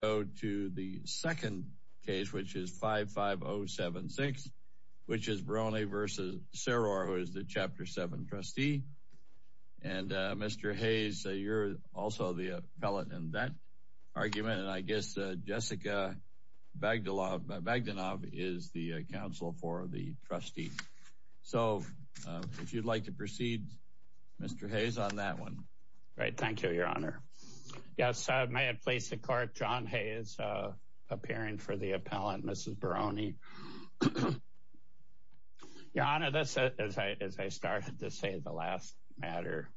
The second case is 55076, which is Baroni v. Seror, who is the Chapter 7 trustee. Mr. Hayes, you're also the appellate in that argument. I guess Jessica Bagdanov is the counsel for the trustee. If you'd like to proceed, Mr. Hayes, on that one. Thank you, Your Honor. Yes, may it please the Court, John Hayes, appearing for the appellant, Mrs. Baroni. Your Honor, this is, as I started to say, the last matter.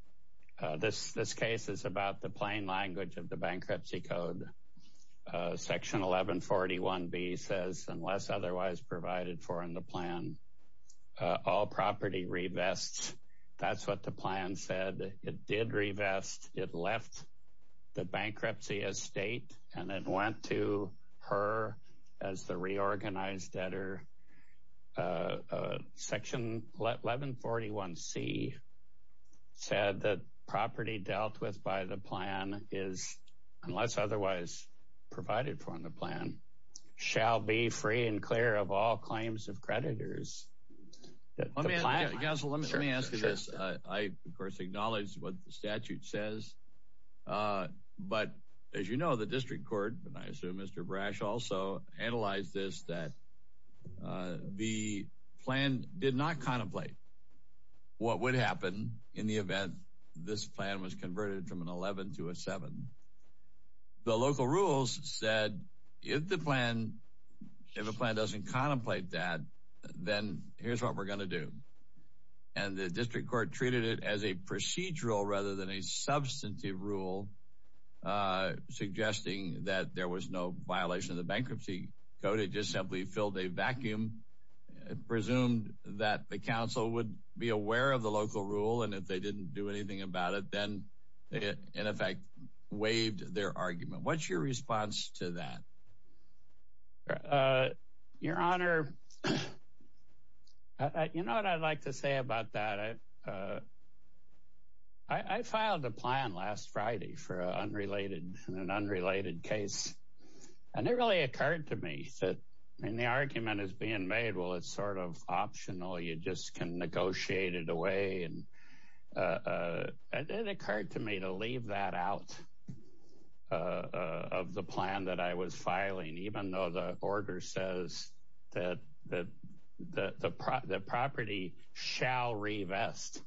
This case is about the plain language of the Bankruptcy Code. Section 1141B says, unless otherwise provided for in the plan, all property revests. That's what the plan said. It did revest, it left the bankruptcy estate, and it went to her as the reorganized debtor. Section 1141C said that property dealt with by the plan is, unless otherwise provided for in the plan, shall be free and clear of all claims of creditors. Let me ask you this. I, of course, acknowledge what the statute says. But, as you know, the District Court, and I assume Mr. Brash also analyzed this, that the plan did not contemplate what would happen in the event this plan was converted from an 11 to a 7. The local rules said, if the plan, if a plan doesn't contemplate that, then here's what we're going to do. And the District Court treated it as a procedural rather than a substantive rule, suggesting that there was no violation of the Bankruptcy Code. It just simply filled a vacuum, presumed that the council would be aware of the local rule, and if they didn't do anything about it, then in effect waived their argument. What's your response to that? Your Honor, you know what I'd like to say about that? I filed a plan last Friday for an unrelated case, and it really occurred to me that the argument is being made, well, it's sort of optional, you just can negotiate it away. It occurred to me to leave that out of the plan that I was filing, even though the order says that the property shall revest.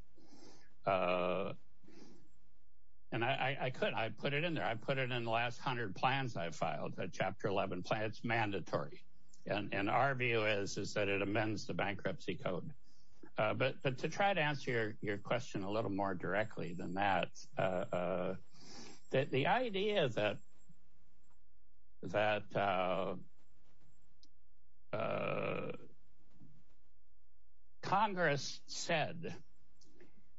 And I put it in there, I put it in the last 100 plans I filed, that Chapter 11 plan, it's mandatory. And our view is that it amends the Bankruptcy Code. But to try to answer your question a little more directly than that, the idea that Congress said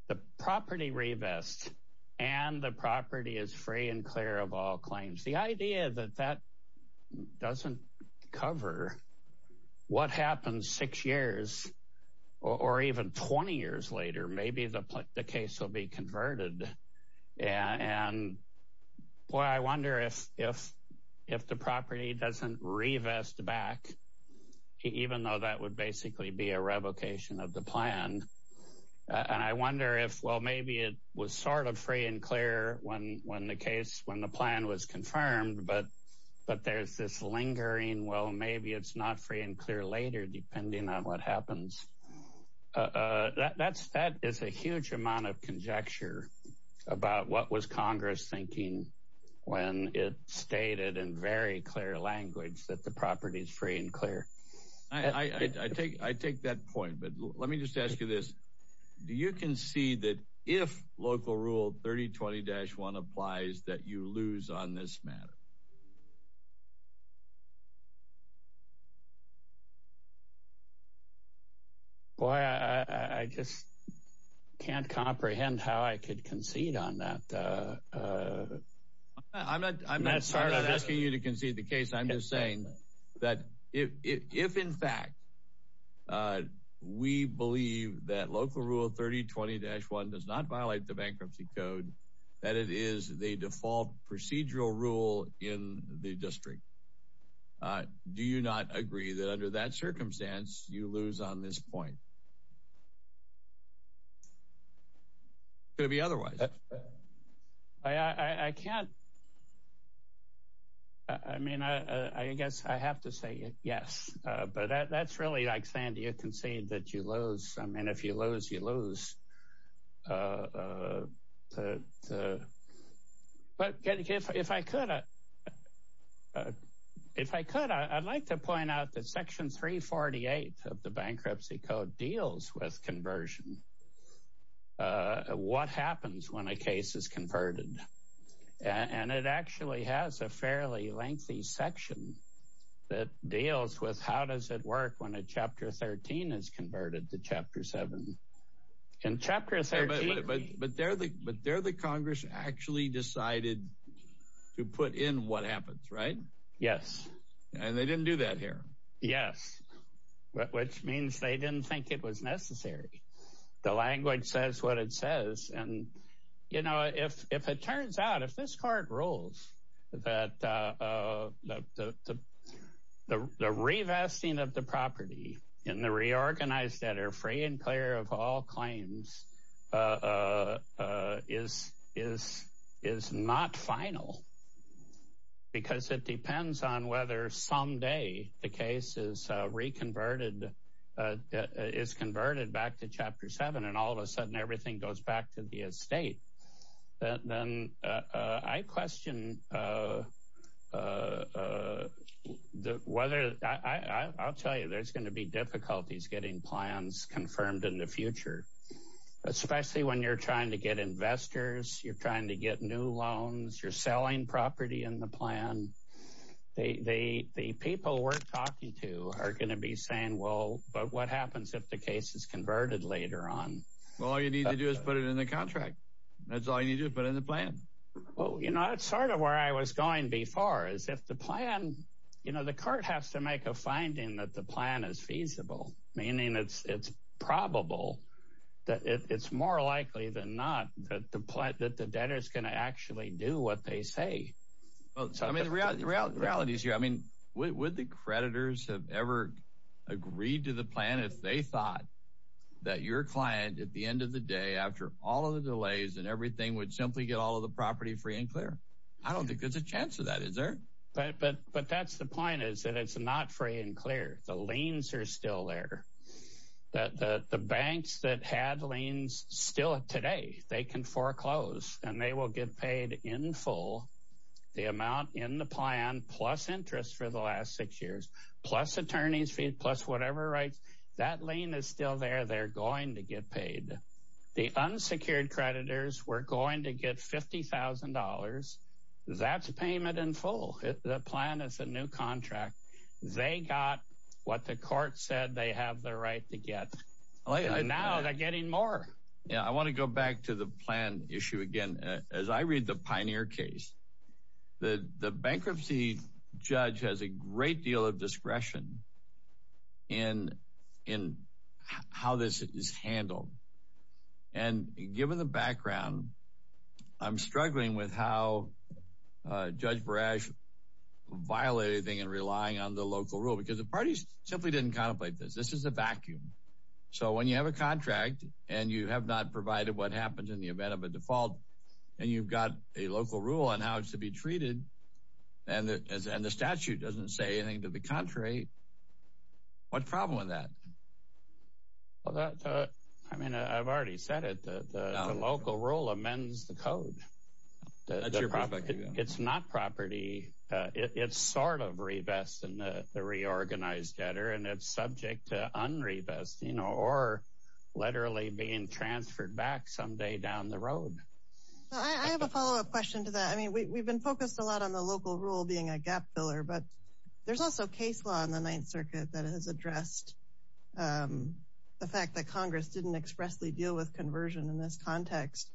the property revests and the property is free and clear of all claims, the idea that that doesn't cover what happens six years or even 20 years later, maybe the case will be converted. And boy, I wonder if the property doesn't revest back, even though that would basically be a revocation of the plan. And I wonder if, well, maybe it was sort of free and clear when the plan was confirmed, but there's this lingering, well, maybe it's not free and clear later, depending on what happens. That is a huge amount of conjecture about what was Congress thinking when it stated in very clear language that the property is free and clear. I take that point, but let me just ask you this. Do you concede that if Local Rule 3020-1 applies that you lose on this matter? Boy, I just can't comprehend how I could concede on that. I'm not asking you to concede the case. I'm just saying that if, in fact, we believe that Local Rule 3020-1 does not violate the bankruptcy code, that it is the default procedural rule in the district, do you not agree that under that circumstance you lose on this point? Could it be otherwise? I can't. I mean, I guess I have to say yes, but that's really like saying do you concede that you lose. I mean, if you lose, you lose. But if I could, I'd like to point out that Section 348 of the bankruptcy code deals with conversion. What happens when a case is converted? And it actually has a fairly lengthy section that deals with how does it work when a Chapter 13 is converted to Chapter 7. In Chapter 13... But there the Congress actually decided to put in what happens, right? Yes. And they didn't do that here. Yes, which means they didn't think it was necessary. The language says what it says. And, you know, if it turns out, if this Court rules that the revesting of the property and the reorganized debtor free and clear of all claims is not final because it depends on whether someday the case is reconverted, is converted back to Chapter 7 and all of a sudden everything goes back to the estate, then I question whether... I'll tell you there's going to be difficulties getting plans confirmed in the future, especially when you're trying to get investors, you're trying to get new loans, you're selling property in the plan. The people we're talking to are going to be saying, well, but what happens if the case is converted later on? All you need to do is put it in the contract. That's all you need to do, put it in the plan. Well, you know, that's sort of where I was going before is if the plan... You know, the Court has to make a finding that the plan is feasible, meaning it's probable that it's more likely than not that the debtor is going to actually do what they say. Well, I mean, the reality is here. I mean, would the creditors have ever agreed to the plan if they thought that your client, at the end of the day, after all of the delays and everything, would simply get all of the property free and clear? I don't think there's a chance of that, is there? But that's the point is that it's not free and clear. The liens are still there. The banks that had liens still today, they can foreclose, and they will get paid in full the amount in the plan plus interest for the last six years, plus attorney's fee, plus whatever rights. That lien is still there. They're going to get paid. The unsecured creditors were going to get $50,000. That's payment in full. The plan is a new contract. They got what the court said they have the right to get. And now they're getting more. Yeah, I want to go back to the plan issue again. As I read the Pioneer case, the bankruptcy judge has a great deal of discretion in how this is handled. And given the background, I'm struggling with how Judge Barash violated anything and relying on the local rule because the parties simply didn't contemplate this. This is a vacuum. So when you have a contract and you have not provided what happens in the event of a default and you've got a local rule on how it's to be treated and the statute doesn't say anything to the contrary, what's the problem with that? I mean, I've already said it. The local rule amends the code. It's not property. It's sort of revesting the reorganized debtor and it's subject to unrevesting or literally being transferred back someday down the road. I have a follow-up question to that. I mean, we've been focused a lot on the local rule being a gap filler, but there's also case law in the Ninth Circuit that has addressed the fact that Congress didn't expressly deal with conversion in this context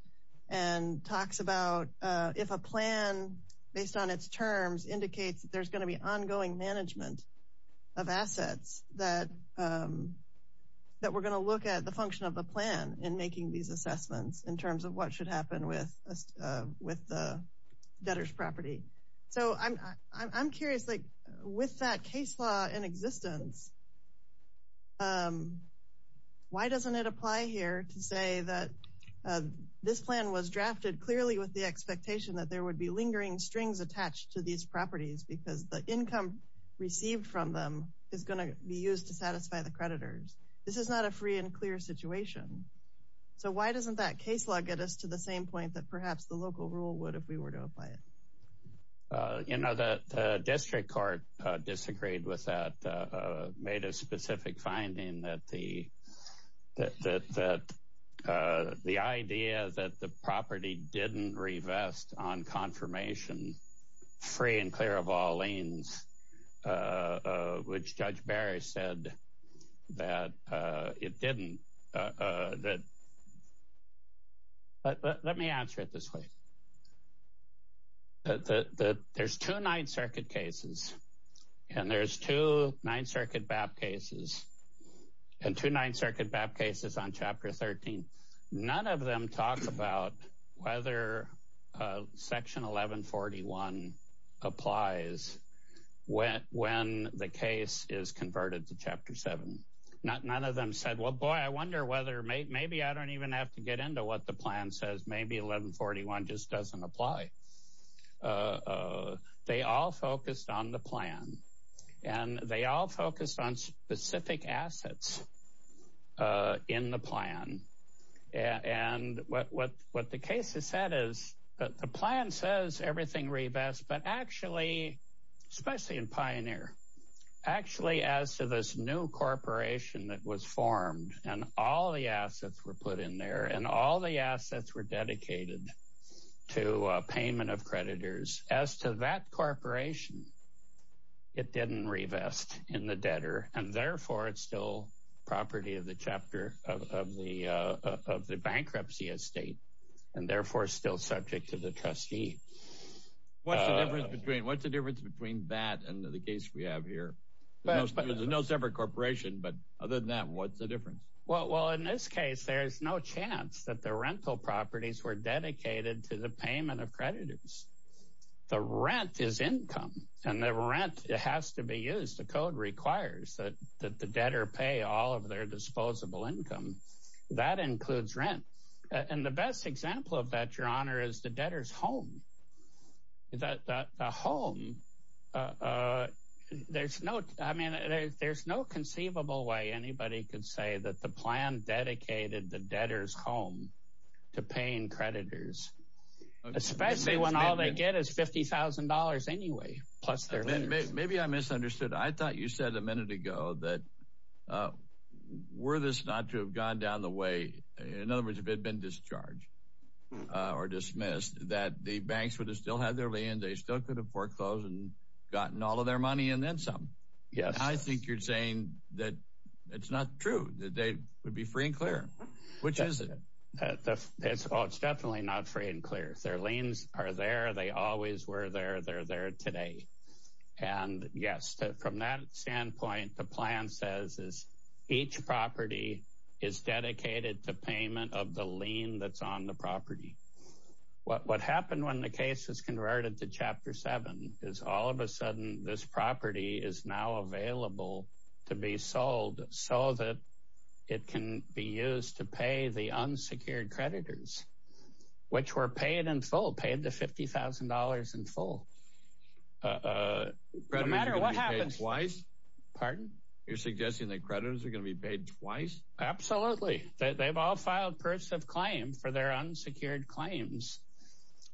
and talks about if a plan, based on its terms, indicates that there's going to be ongoing management of assets, that we're going to look at the function of the plan in making these assessments in terms of what should happen with the debtor's property. So I'm curious, like, with that case law in existence, why doesn't it apply here to say that this plan was drafted clearly with the expectation that there would be lingering strings attached to these properties because the income received from them is going to be used to satisfy the creditors? This is not a free and clear situation. So why doesn't that case law get us to the same point that perhaps the local rule would if we were to apply it? You know, the district court disagreed with that, made a specific finding that the idea that the property didn't revest on confirmation, free and clear of all liens, which Judge Barry said that it didn't. But let me answer it this way. There's two Ninth Circuit cases, and there's two Ninth Circuit BAP cases, and two Ninth Circuit BAP cases on Chapter 13. None of them talk about whether Section 1141 applies when the case is converted to Chapter 7. None of them said, well, boy, I wonder whether maybe I don't even have to get into what the plan says. Maybe 1141 just doesn't apply. They all focused on the plan, and they all focused on specific assets in the plan. And what the case has said is that the plan says everything revests, but actually, especially in Pioneer, actually as to this new corporation that was formed, and all the assets were put in there, and all the assets were dedicated to payment of creditors, as to that corporation, it didn't revest in the debtor, and therefore it's still property of the bankruptcy estate, and therefore still subject to the trustee. What's the difference between that and the case we have here? There's no separate corporation, but other than that, what's the difference? Well, in this case, there's no chance that the rental properties were dedicated to the payment of creditors. The rent is income, and the rent has to be used. The code requires that the debtor pay all of their disposable income. That includes rent. And the best example of that, Your Honor, is the debtor's home. The home, there's no conceivable way anybody could say that the plan dedicated the debtor's home to paying creditors, especially when all they get is $50,000 anyway, plus their rent. Maybe I misunderstood. I thought you said a minute ago that were this not to have gone down the way, in other words, if it had been discharged or dismissed, that the banks would have still had their lien, they still could have foreclosed and gotten all of their money and then some. I think you're saying that it's not true, that they would be free and clear. It's definitely not free and clear. Their liens are there. They always were there. They're there today. And, yes, from that standpoint, the plan says each property is dedicated to payment of the lien that's on the property. What happened when the case was converted to Chapter 7 is all of a sudden this property is now available to be sold so that it can be used to pay the unsecured creditors, which were paid in full, paid the $50,000 in full. Creditors are going to be paid twice? Pardon? You're suggesting that creditors are going to be paid twice? Absolutely. They've all filed purses of claim for their unsecured claims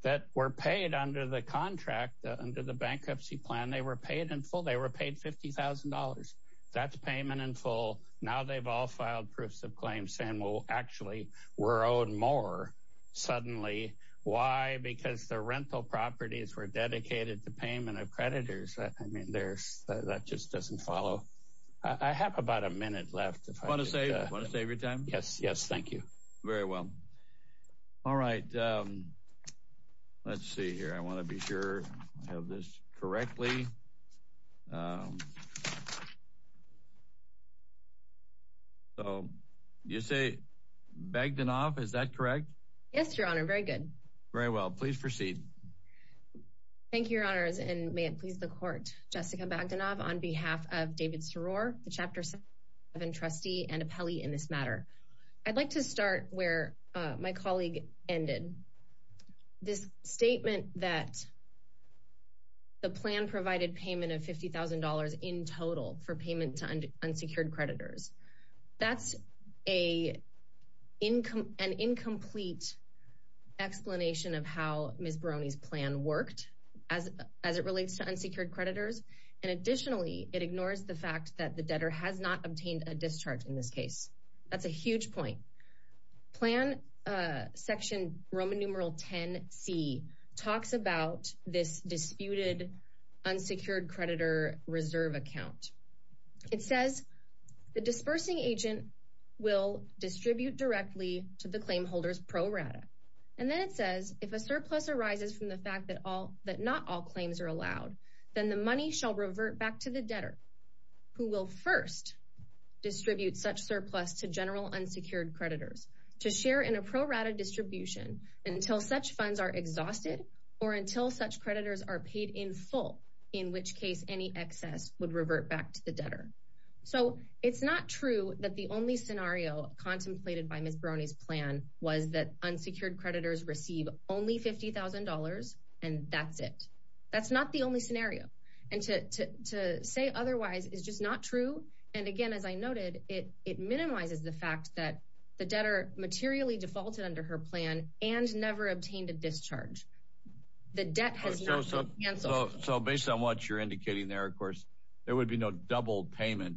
that were paid under the contract, under the bankruptcy plan. They were paid in full. They were paid $50,000. That's payment in full. Now they've all filed purses of claim saying, well, actually, we're owed more suddenly. Why? Because the rental properties were dedicated to payment of creditors. I mean, that just doesn't follow. I have about a minute left. Want to save your time? Yes. Yes, thank you. Very well. All right. Let's see here. I want to be sure I have this correctly. So you say Bagdanoff, is that correct? Yes, Your Honor. Very good. Very well. Please proceed. Thank you, Your Honors, and may it please the Court. Jessica Bagdanoff on behalf of David Soror, the Chapter 7 trustee and appellee in this matter. I'd like to start where my colleague ended. This statement that the plan provided payment of $50,000 in total for payment to unsecured creditors, that's an incomplete explanation of how Ms. Barone's plan worked as it relates to unsecured creditors. And additionally, it ignores the fact that the debtor has not obtained a discharge in this case. That's a huge point. Plan section Roman numeral 10C talks about this disputed unsecured creditor reserve account. It says, the dispersing agent will distribute directly to the claim holder's pro rata. And then it says, if a surplus arises from the fact that not all claims are allowed, then the money shall revert back to the debtor who will first distribute such surplus to general unsecured creditors to share in a pro rata distribution until such funds are exhausted or until such creditors are paid in full, in which case any excess would revert back to the debtor. So it's not true that the only scenario contemplated by Ms. Barone's plan was that unsecured creditors receive only $50,000, and that's it. That's not the only scenario. And to say otherwise is just not true. And again, as I noted, it minimizes the fact that the debtor materially defaulted under her plan and never obtained a discharge. The debt has not been canceled. So based on what you're indicating there, of course, there would be no double payment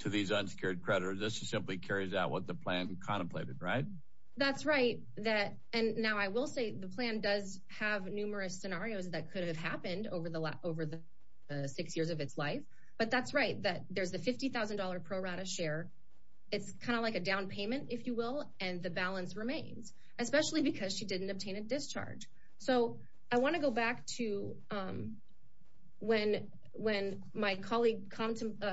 to these unsecured creditors. This simply carries out what the plan contemplated, right? That's right. And now I will say the plan does have numerous scenarios that could have happened over the six years of its life. But that's right, that there's the $50,000 pro rata share. It's kind of like a down payment, if you will, and the balance remains, especially because she didn't obtain a discharge. So I want to go back to when my colleague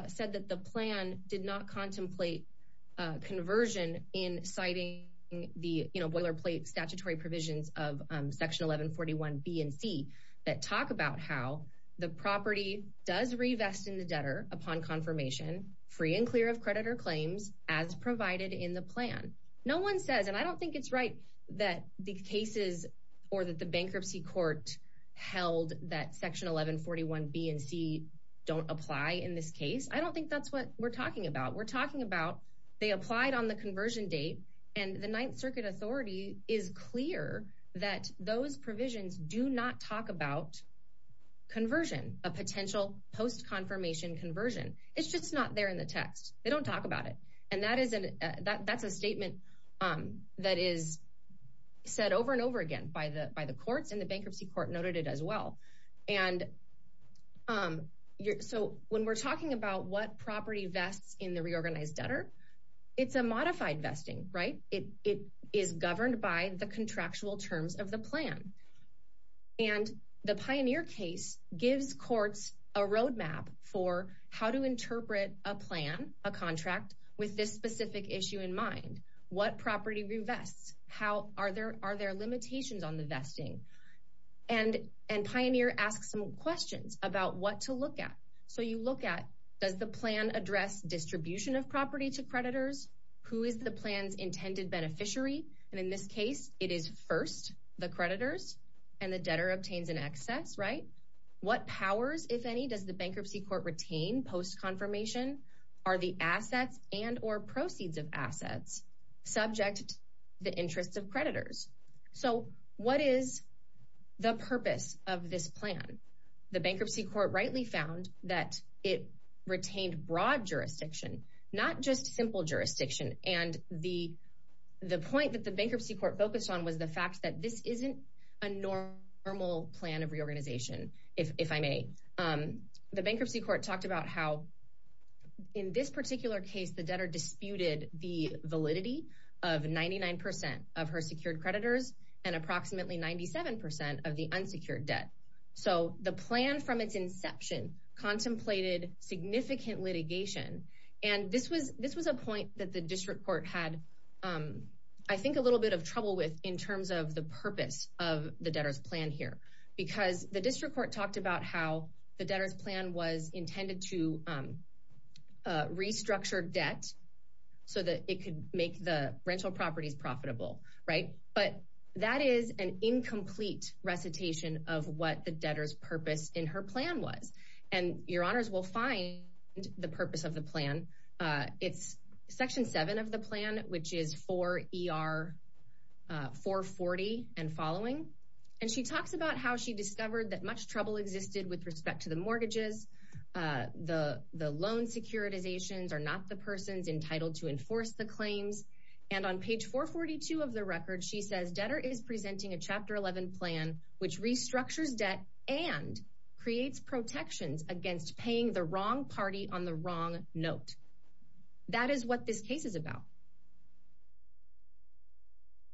said that the plan did not contemplate conversion in citing the boilerplate statutory provisions of Section 1141B and C that talk about how the property does revest in the debtor upon confirmation, free and clear of creditor claims, as provided in the plan. No one says, and I don't think it's right that the cases or that the bankruptcy court held that Section 1141B and C don't apply in this case. I don't think that's what we're talking about. We're talking about they applied on the conversion date, and the Ninth Circuit Authority is clear that those provisions do not talk about conversion, a potential post-confirmation conversion. It's just not there in the text. They don't talk about it. And that's a statement that is said over and over again by the courts, and the bankruptcy court noted it as well. And so when we're talking about what property vests in the reorganized debtor, it's a modified vesting, right? It is governed by the contractual terms of the plan. And the Pioneer case gives courts a roadmap for how to interpret a plan, a contract, with this specific issue in mind. What property revests? Are there limitations on the vesting? And Pioneer asks some questions about what to look at. So you look at, does the plan address distribution of property to creditors? Who is the plan's intended beneficiary? And in this case, it is first the creditors, and the debtor obtains an excess, right? What powers, if any, does the bankruptcy court retain post-confirmation? Are the assets and or proceeds of assets subject to the interests of creditors? So what is the purpose of this plan? The bankruptcy court rightly found that it retained broad jurisdiction, not just simple jurisdiction. And the point that the bankruptcy court focused on was the fact that this isn't a normal plan of reorganization, if I may. The bankruptcy court talked about how, in this particular case, the debtor disputed the validity of 99 percent of her secured creditors and approximately 97 percent of the unsecured debt. So the plan from its inception contemplated significant litigation. And this was a point that the district court had, I think, a little bit of trouble with in terms of the purpose of the debtor's plan here. Because the district court talked about how the debtor's plan was intended to restructure debt so that it could make the rental properties profitable, right? But that is an incomplete recitation of what the debtor's purpose in her plan was. And your honors will find the purpose of the plan. It's Section 7 of the plan, which is 4 ER 440 and following. And she talks about how she discovered that much trouble existed with respect to the mortgages. The the loan securitizations are not the persons entitled to enforce the claims. And on page 442 of the record, she says debtor is presenting a Chapter 11 plan which restructures debt and creates protections against paying the wrong party on the wrong note. That is what this case is about.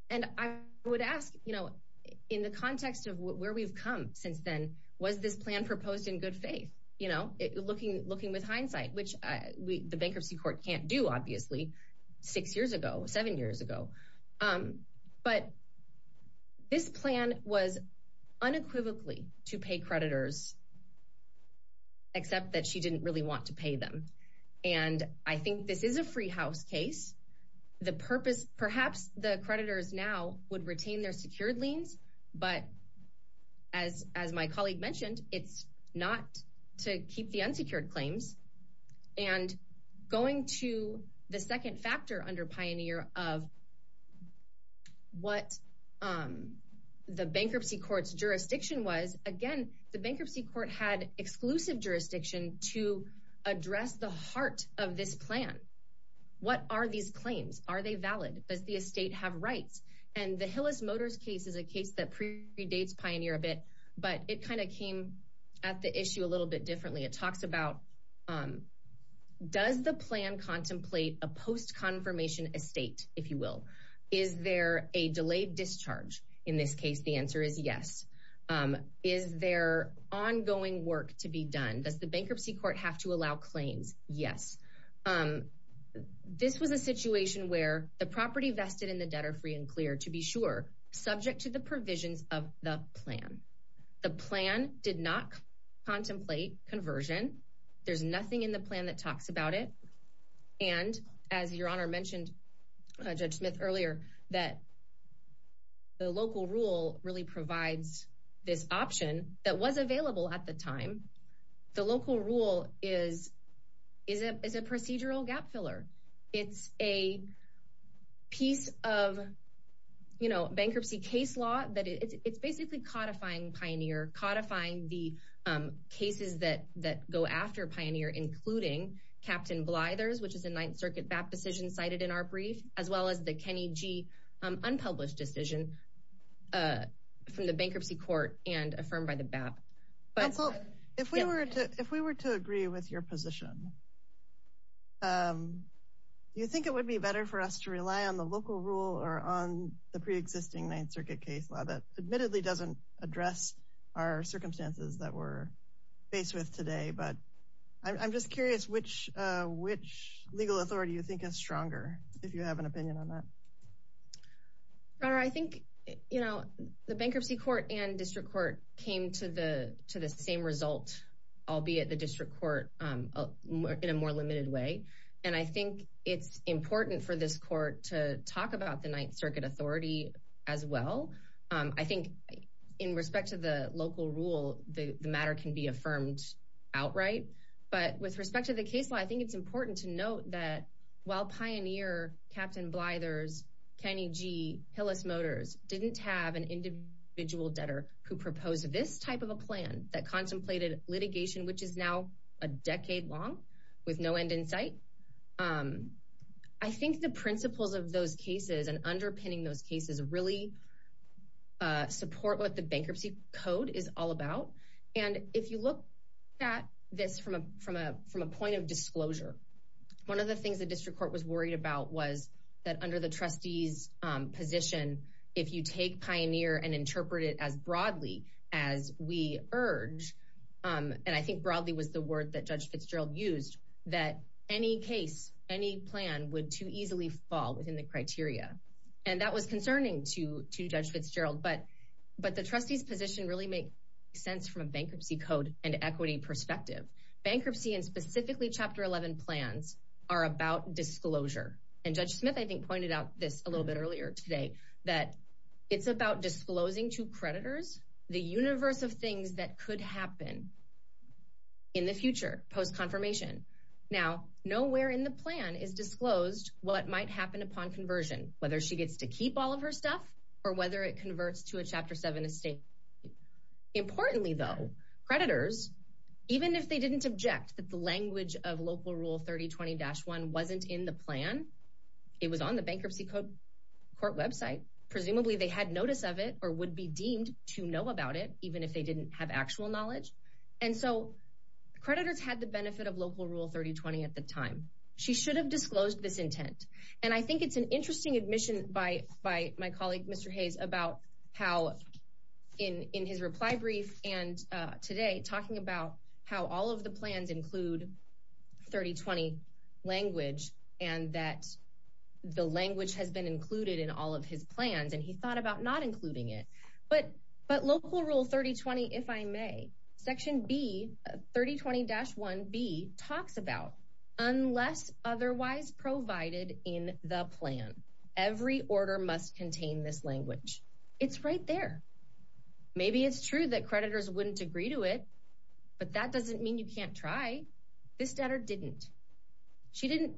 And I would ask, you know, in the context of where we've come since then, was this plan proposed in good faith? You know, looking looking with hindsight, which the bankruptcy court can't do, obviously, six years ago, seven years ago. But this plan was unequivocally to pay creditors. Except that she didn't really want to pay them. And I think this is a free house case. The purpose, perhaps the creditors now would retain their secured liens. But as as my colleague mentioned, it's not to keep the unsecured claims. And going to the second factor under Pioneer of what the bankruptcy court's jurisdiction was. Again, the bankruptcy court had exclusive jurisdiction to address the heart of this plan. What are these claims? Are they valid? Does the estate have rights? And the Hillis Motors case is a case that predates Pioneer a bit. But it kind of came at the issue a little bit differently. It talks about does the plan contemplate a post-confirmation estate, if you will? Is there a delayed discharge? In this case, the answer is yes. Is there ongoing work to be done? Does the bankruptcy court have to allow claims? Yes. This was a situation where the property vested in the debtor free and clear, to be sure, subject to the provisions of the plan. The plan did not contemplate conversion. There's nothing in the plan that talks about it. And as Your Honor mentioned, Judge Smith earlier, that the local rule really provides this option that was available at the time. The local rule is a procedural gap filler. It's a piece of bankruptcy case law. It's basically codifying Pioneer, codifying the cases that go after Pioneer, including Captain Blyther's, which is a Ninth Circuit BAP decision cited in our brief, as well as the Kenny G unpublished decision from the bankruptcy court and affirmed by the BAP. If we were to agree with your position, do you think it would be better for us to rely on the local rule or on the pre-existing Ninth Circuit case law that admittedly doesn't address our circumstances that we're faced with today? But I'm just curious which legal authority you think is stronger, if you have an opinion on that. Your Honor, I think the bankruptcy court and district court came to the same result, albeit the district court in a more limited way. And I think it's important for this court to talk about the Ninth Circuit authority as well. I think in respect to the local rule, the matter can be affirmed outright. But with respect to the case law, I think it's important to note that while Pioneer, Captain Blyther's, Kenny G, Hillis Motors didn't have an individual debtor who proposed this type of a plan that contemplated litigation, which is now a decade long with no end in sight. I think the principles of those cases and underpinning those cases really support what the bankruptcy code is all about. And if you look at this from a point of disclosure, one of the things the district court was worried about was that under the trustee's position, if you take Pioneer and interpret it as broadly as we urge, and I think broadly was the word that Judge Fitzgerald used, that any case, any plan would too easily fall within the criteria. And that was concerning to Judge Fitzgerald. But the trustee's position really makes sense from a bankruptcy code and equity perspective. Bankruptcy and specifically Chapter 11 plans are about disclosure. And Judge Smith, I think, pointed out this a little bit earlier today, that it's about disclosing to creditors the universe of things that could happen in the future post-confirmation. Now, nowhere in the plan is disclosed what might happen upon conversion, whether she gets to keep all of her stuff or whether it converts to a Chapter 7 estate. Importantly, though, creditors, even if they didn't object that the language of Local Rule 3020-1 wasn't in the plan, it was on the bankruptcy court website, presumably they had notice of it or would be deemed to know about it, even if they didn't have actual knowledge. And so creditors had the benefit of Local Rule 3020 at the time. She should have disclosed this intent. And I think it's an interesting admission by my colleague, Mr. Hayes, about how in his reply brief and today talking about how all of the plans include 3020 language and that the language has been included in all of his plans, and he thought about not including it. But Local Rule 3020, if I may, Section B, 3020-1B, talks about unless otherwise provided in the plan, every order must contain this language. It's right there. Maybe it's true that creditors wouldn't agree to it, but that doesn't mean you can't try. This debtor didn't. She didn't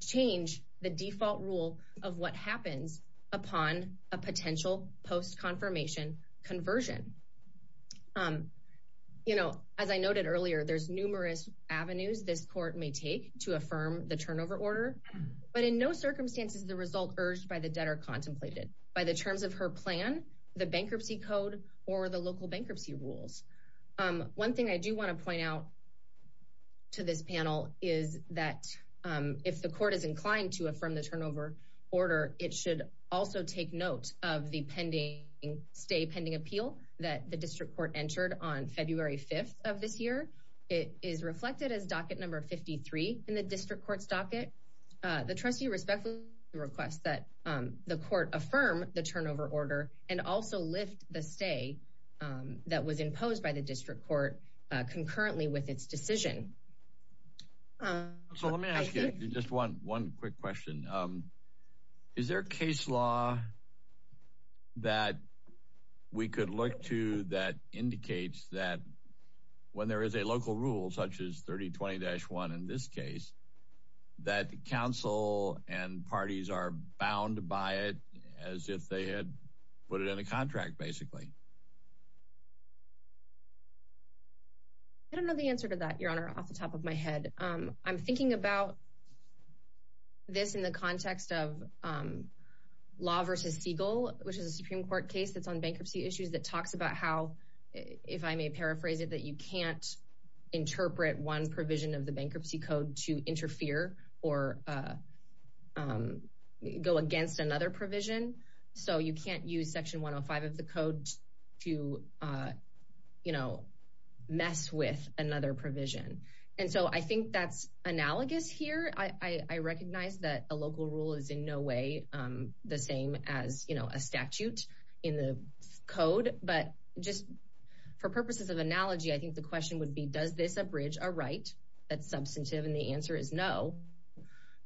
change the default rule of what happens upon a potential post-confirmation conversion. You know, as I noted earlier, there's numerous avenues this court may take to affirm the turnover order, but in no circumstances is the result urged by the debtor contemplated by the terms of her plan, the bankruptcy code, or the local bankruptcy rules. One thing I do want to point out to this panel is that if the court is inclined to affirm the turnover order, it should also take note of the stay pending appeal that the district court entered on February 5th of this year. It is reflected as docket number 53 in the district court's docket. The trustee respectfully requests that the court affirm the turnover order and also lift the stay that was imposed by the district court concurrently with its decision. So let me ask you just one quick question. Is there a case law that we could look to that indicates that when there is a local rule, such as 3020-1 in this case, that counsel and parties are bound by it as if they had put it in a contract, basically? I don't know the answer to that, Your Honor, off the top of my head. I'm thinking about this in the context of Law v. Siegel, which is a Supreme Court case that's on bankruptcy issues that talks about how, if I may paraphrase it, that you can't interpret one provision of the bankruptcy code to interfere or go against another provision. So you can't use Section 105 of the code to mess with another provision. And so I think that's analogous here. I recognize that a local rule is in no way the same as a statute in the code. But just for purposes of analogy, I think the question would be, does this abridge a right that's substantive? And the answer is no.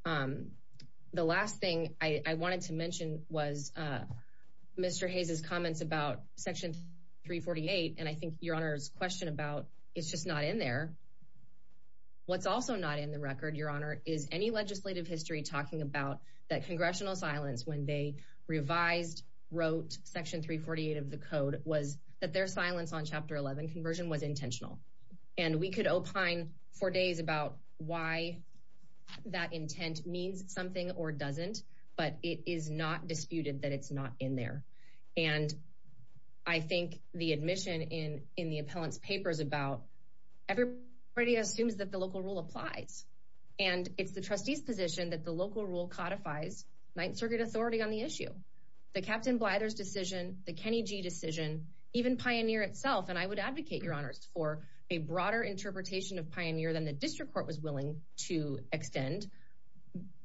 The last thing I wanted to mention was Mr. Hayes' comments about Section 348. And I think Your Honor's question about it's just not in there. What's also not in the record, Your Honor, is any legislative history talking about that congressional silence when they revised, wrote Section 348 of the code, was that their silence on Chapter 11 conversion was intentional. And we could opine for days about why that intent means something or doesn't. But it is not disputed that it's not in there. And I think the admission in the appellant's paper is about everybody assumes that the local rule applies. And it's the trustee's position that the local rule codifies Ninth Circuit authority on the issue. The Captain Blyther's decision, the Kenny G. decision, even Pioneer itself. And I would advocate, Your Honors, for a broader interpretation of Pioneer than the district court was willing to extend.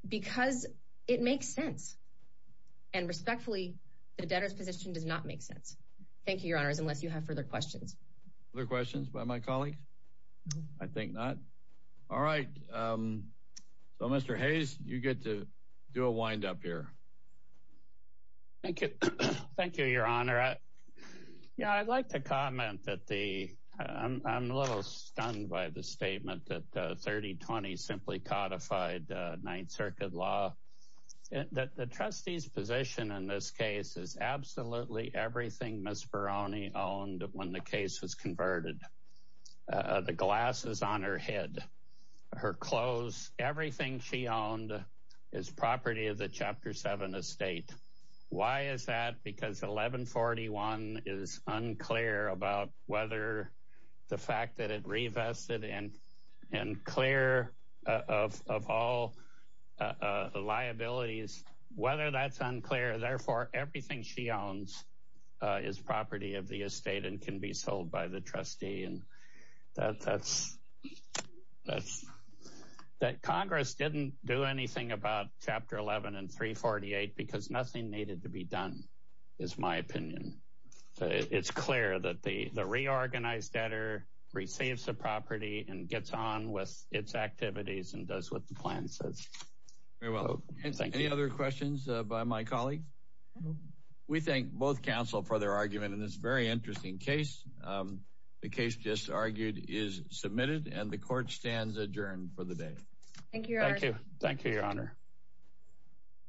Because it makes sense. And respectfully, the debtor's position does not make sense. Thank you, Your Honors, unless you have further questions. Other questions by my colleagues? I think not. All right. So, Mr. Hayes, you get to do a wind-up here. Thank you, Your Honor. Yeah, I'd like to comment that I'm a little stunned by the statement that 3020 simply codified Ninth Circuit law. The trustee's position in this case is absolutely everything Ms. Peroni owned when the case was converted. The glasses on her head, her clothes, everything she owned is property of the Chapter 7 estate. Why is that? Because 1141 is unclear about whether the fact that it revested and clear of all liabilities, whether that's unclear. Therefore, everything she owns is property of the estate and can be sold by the trustee. And that Congress didn't do anything about Chapter 11 and 348 because nothing needed to be done, is my opinion. It's clear that the reorganized debtor receives the property and gets on with its activities and does what the plan says. Very well. Any other questions by my colleagues? We thank both counsel for their argument in this very interesting case. The case just argued is submitted and the court stands adjourned for the day. Thank you, Your Honor. Thank you, Your Honor.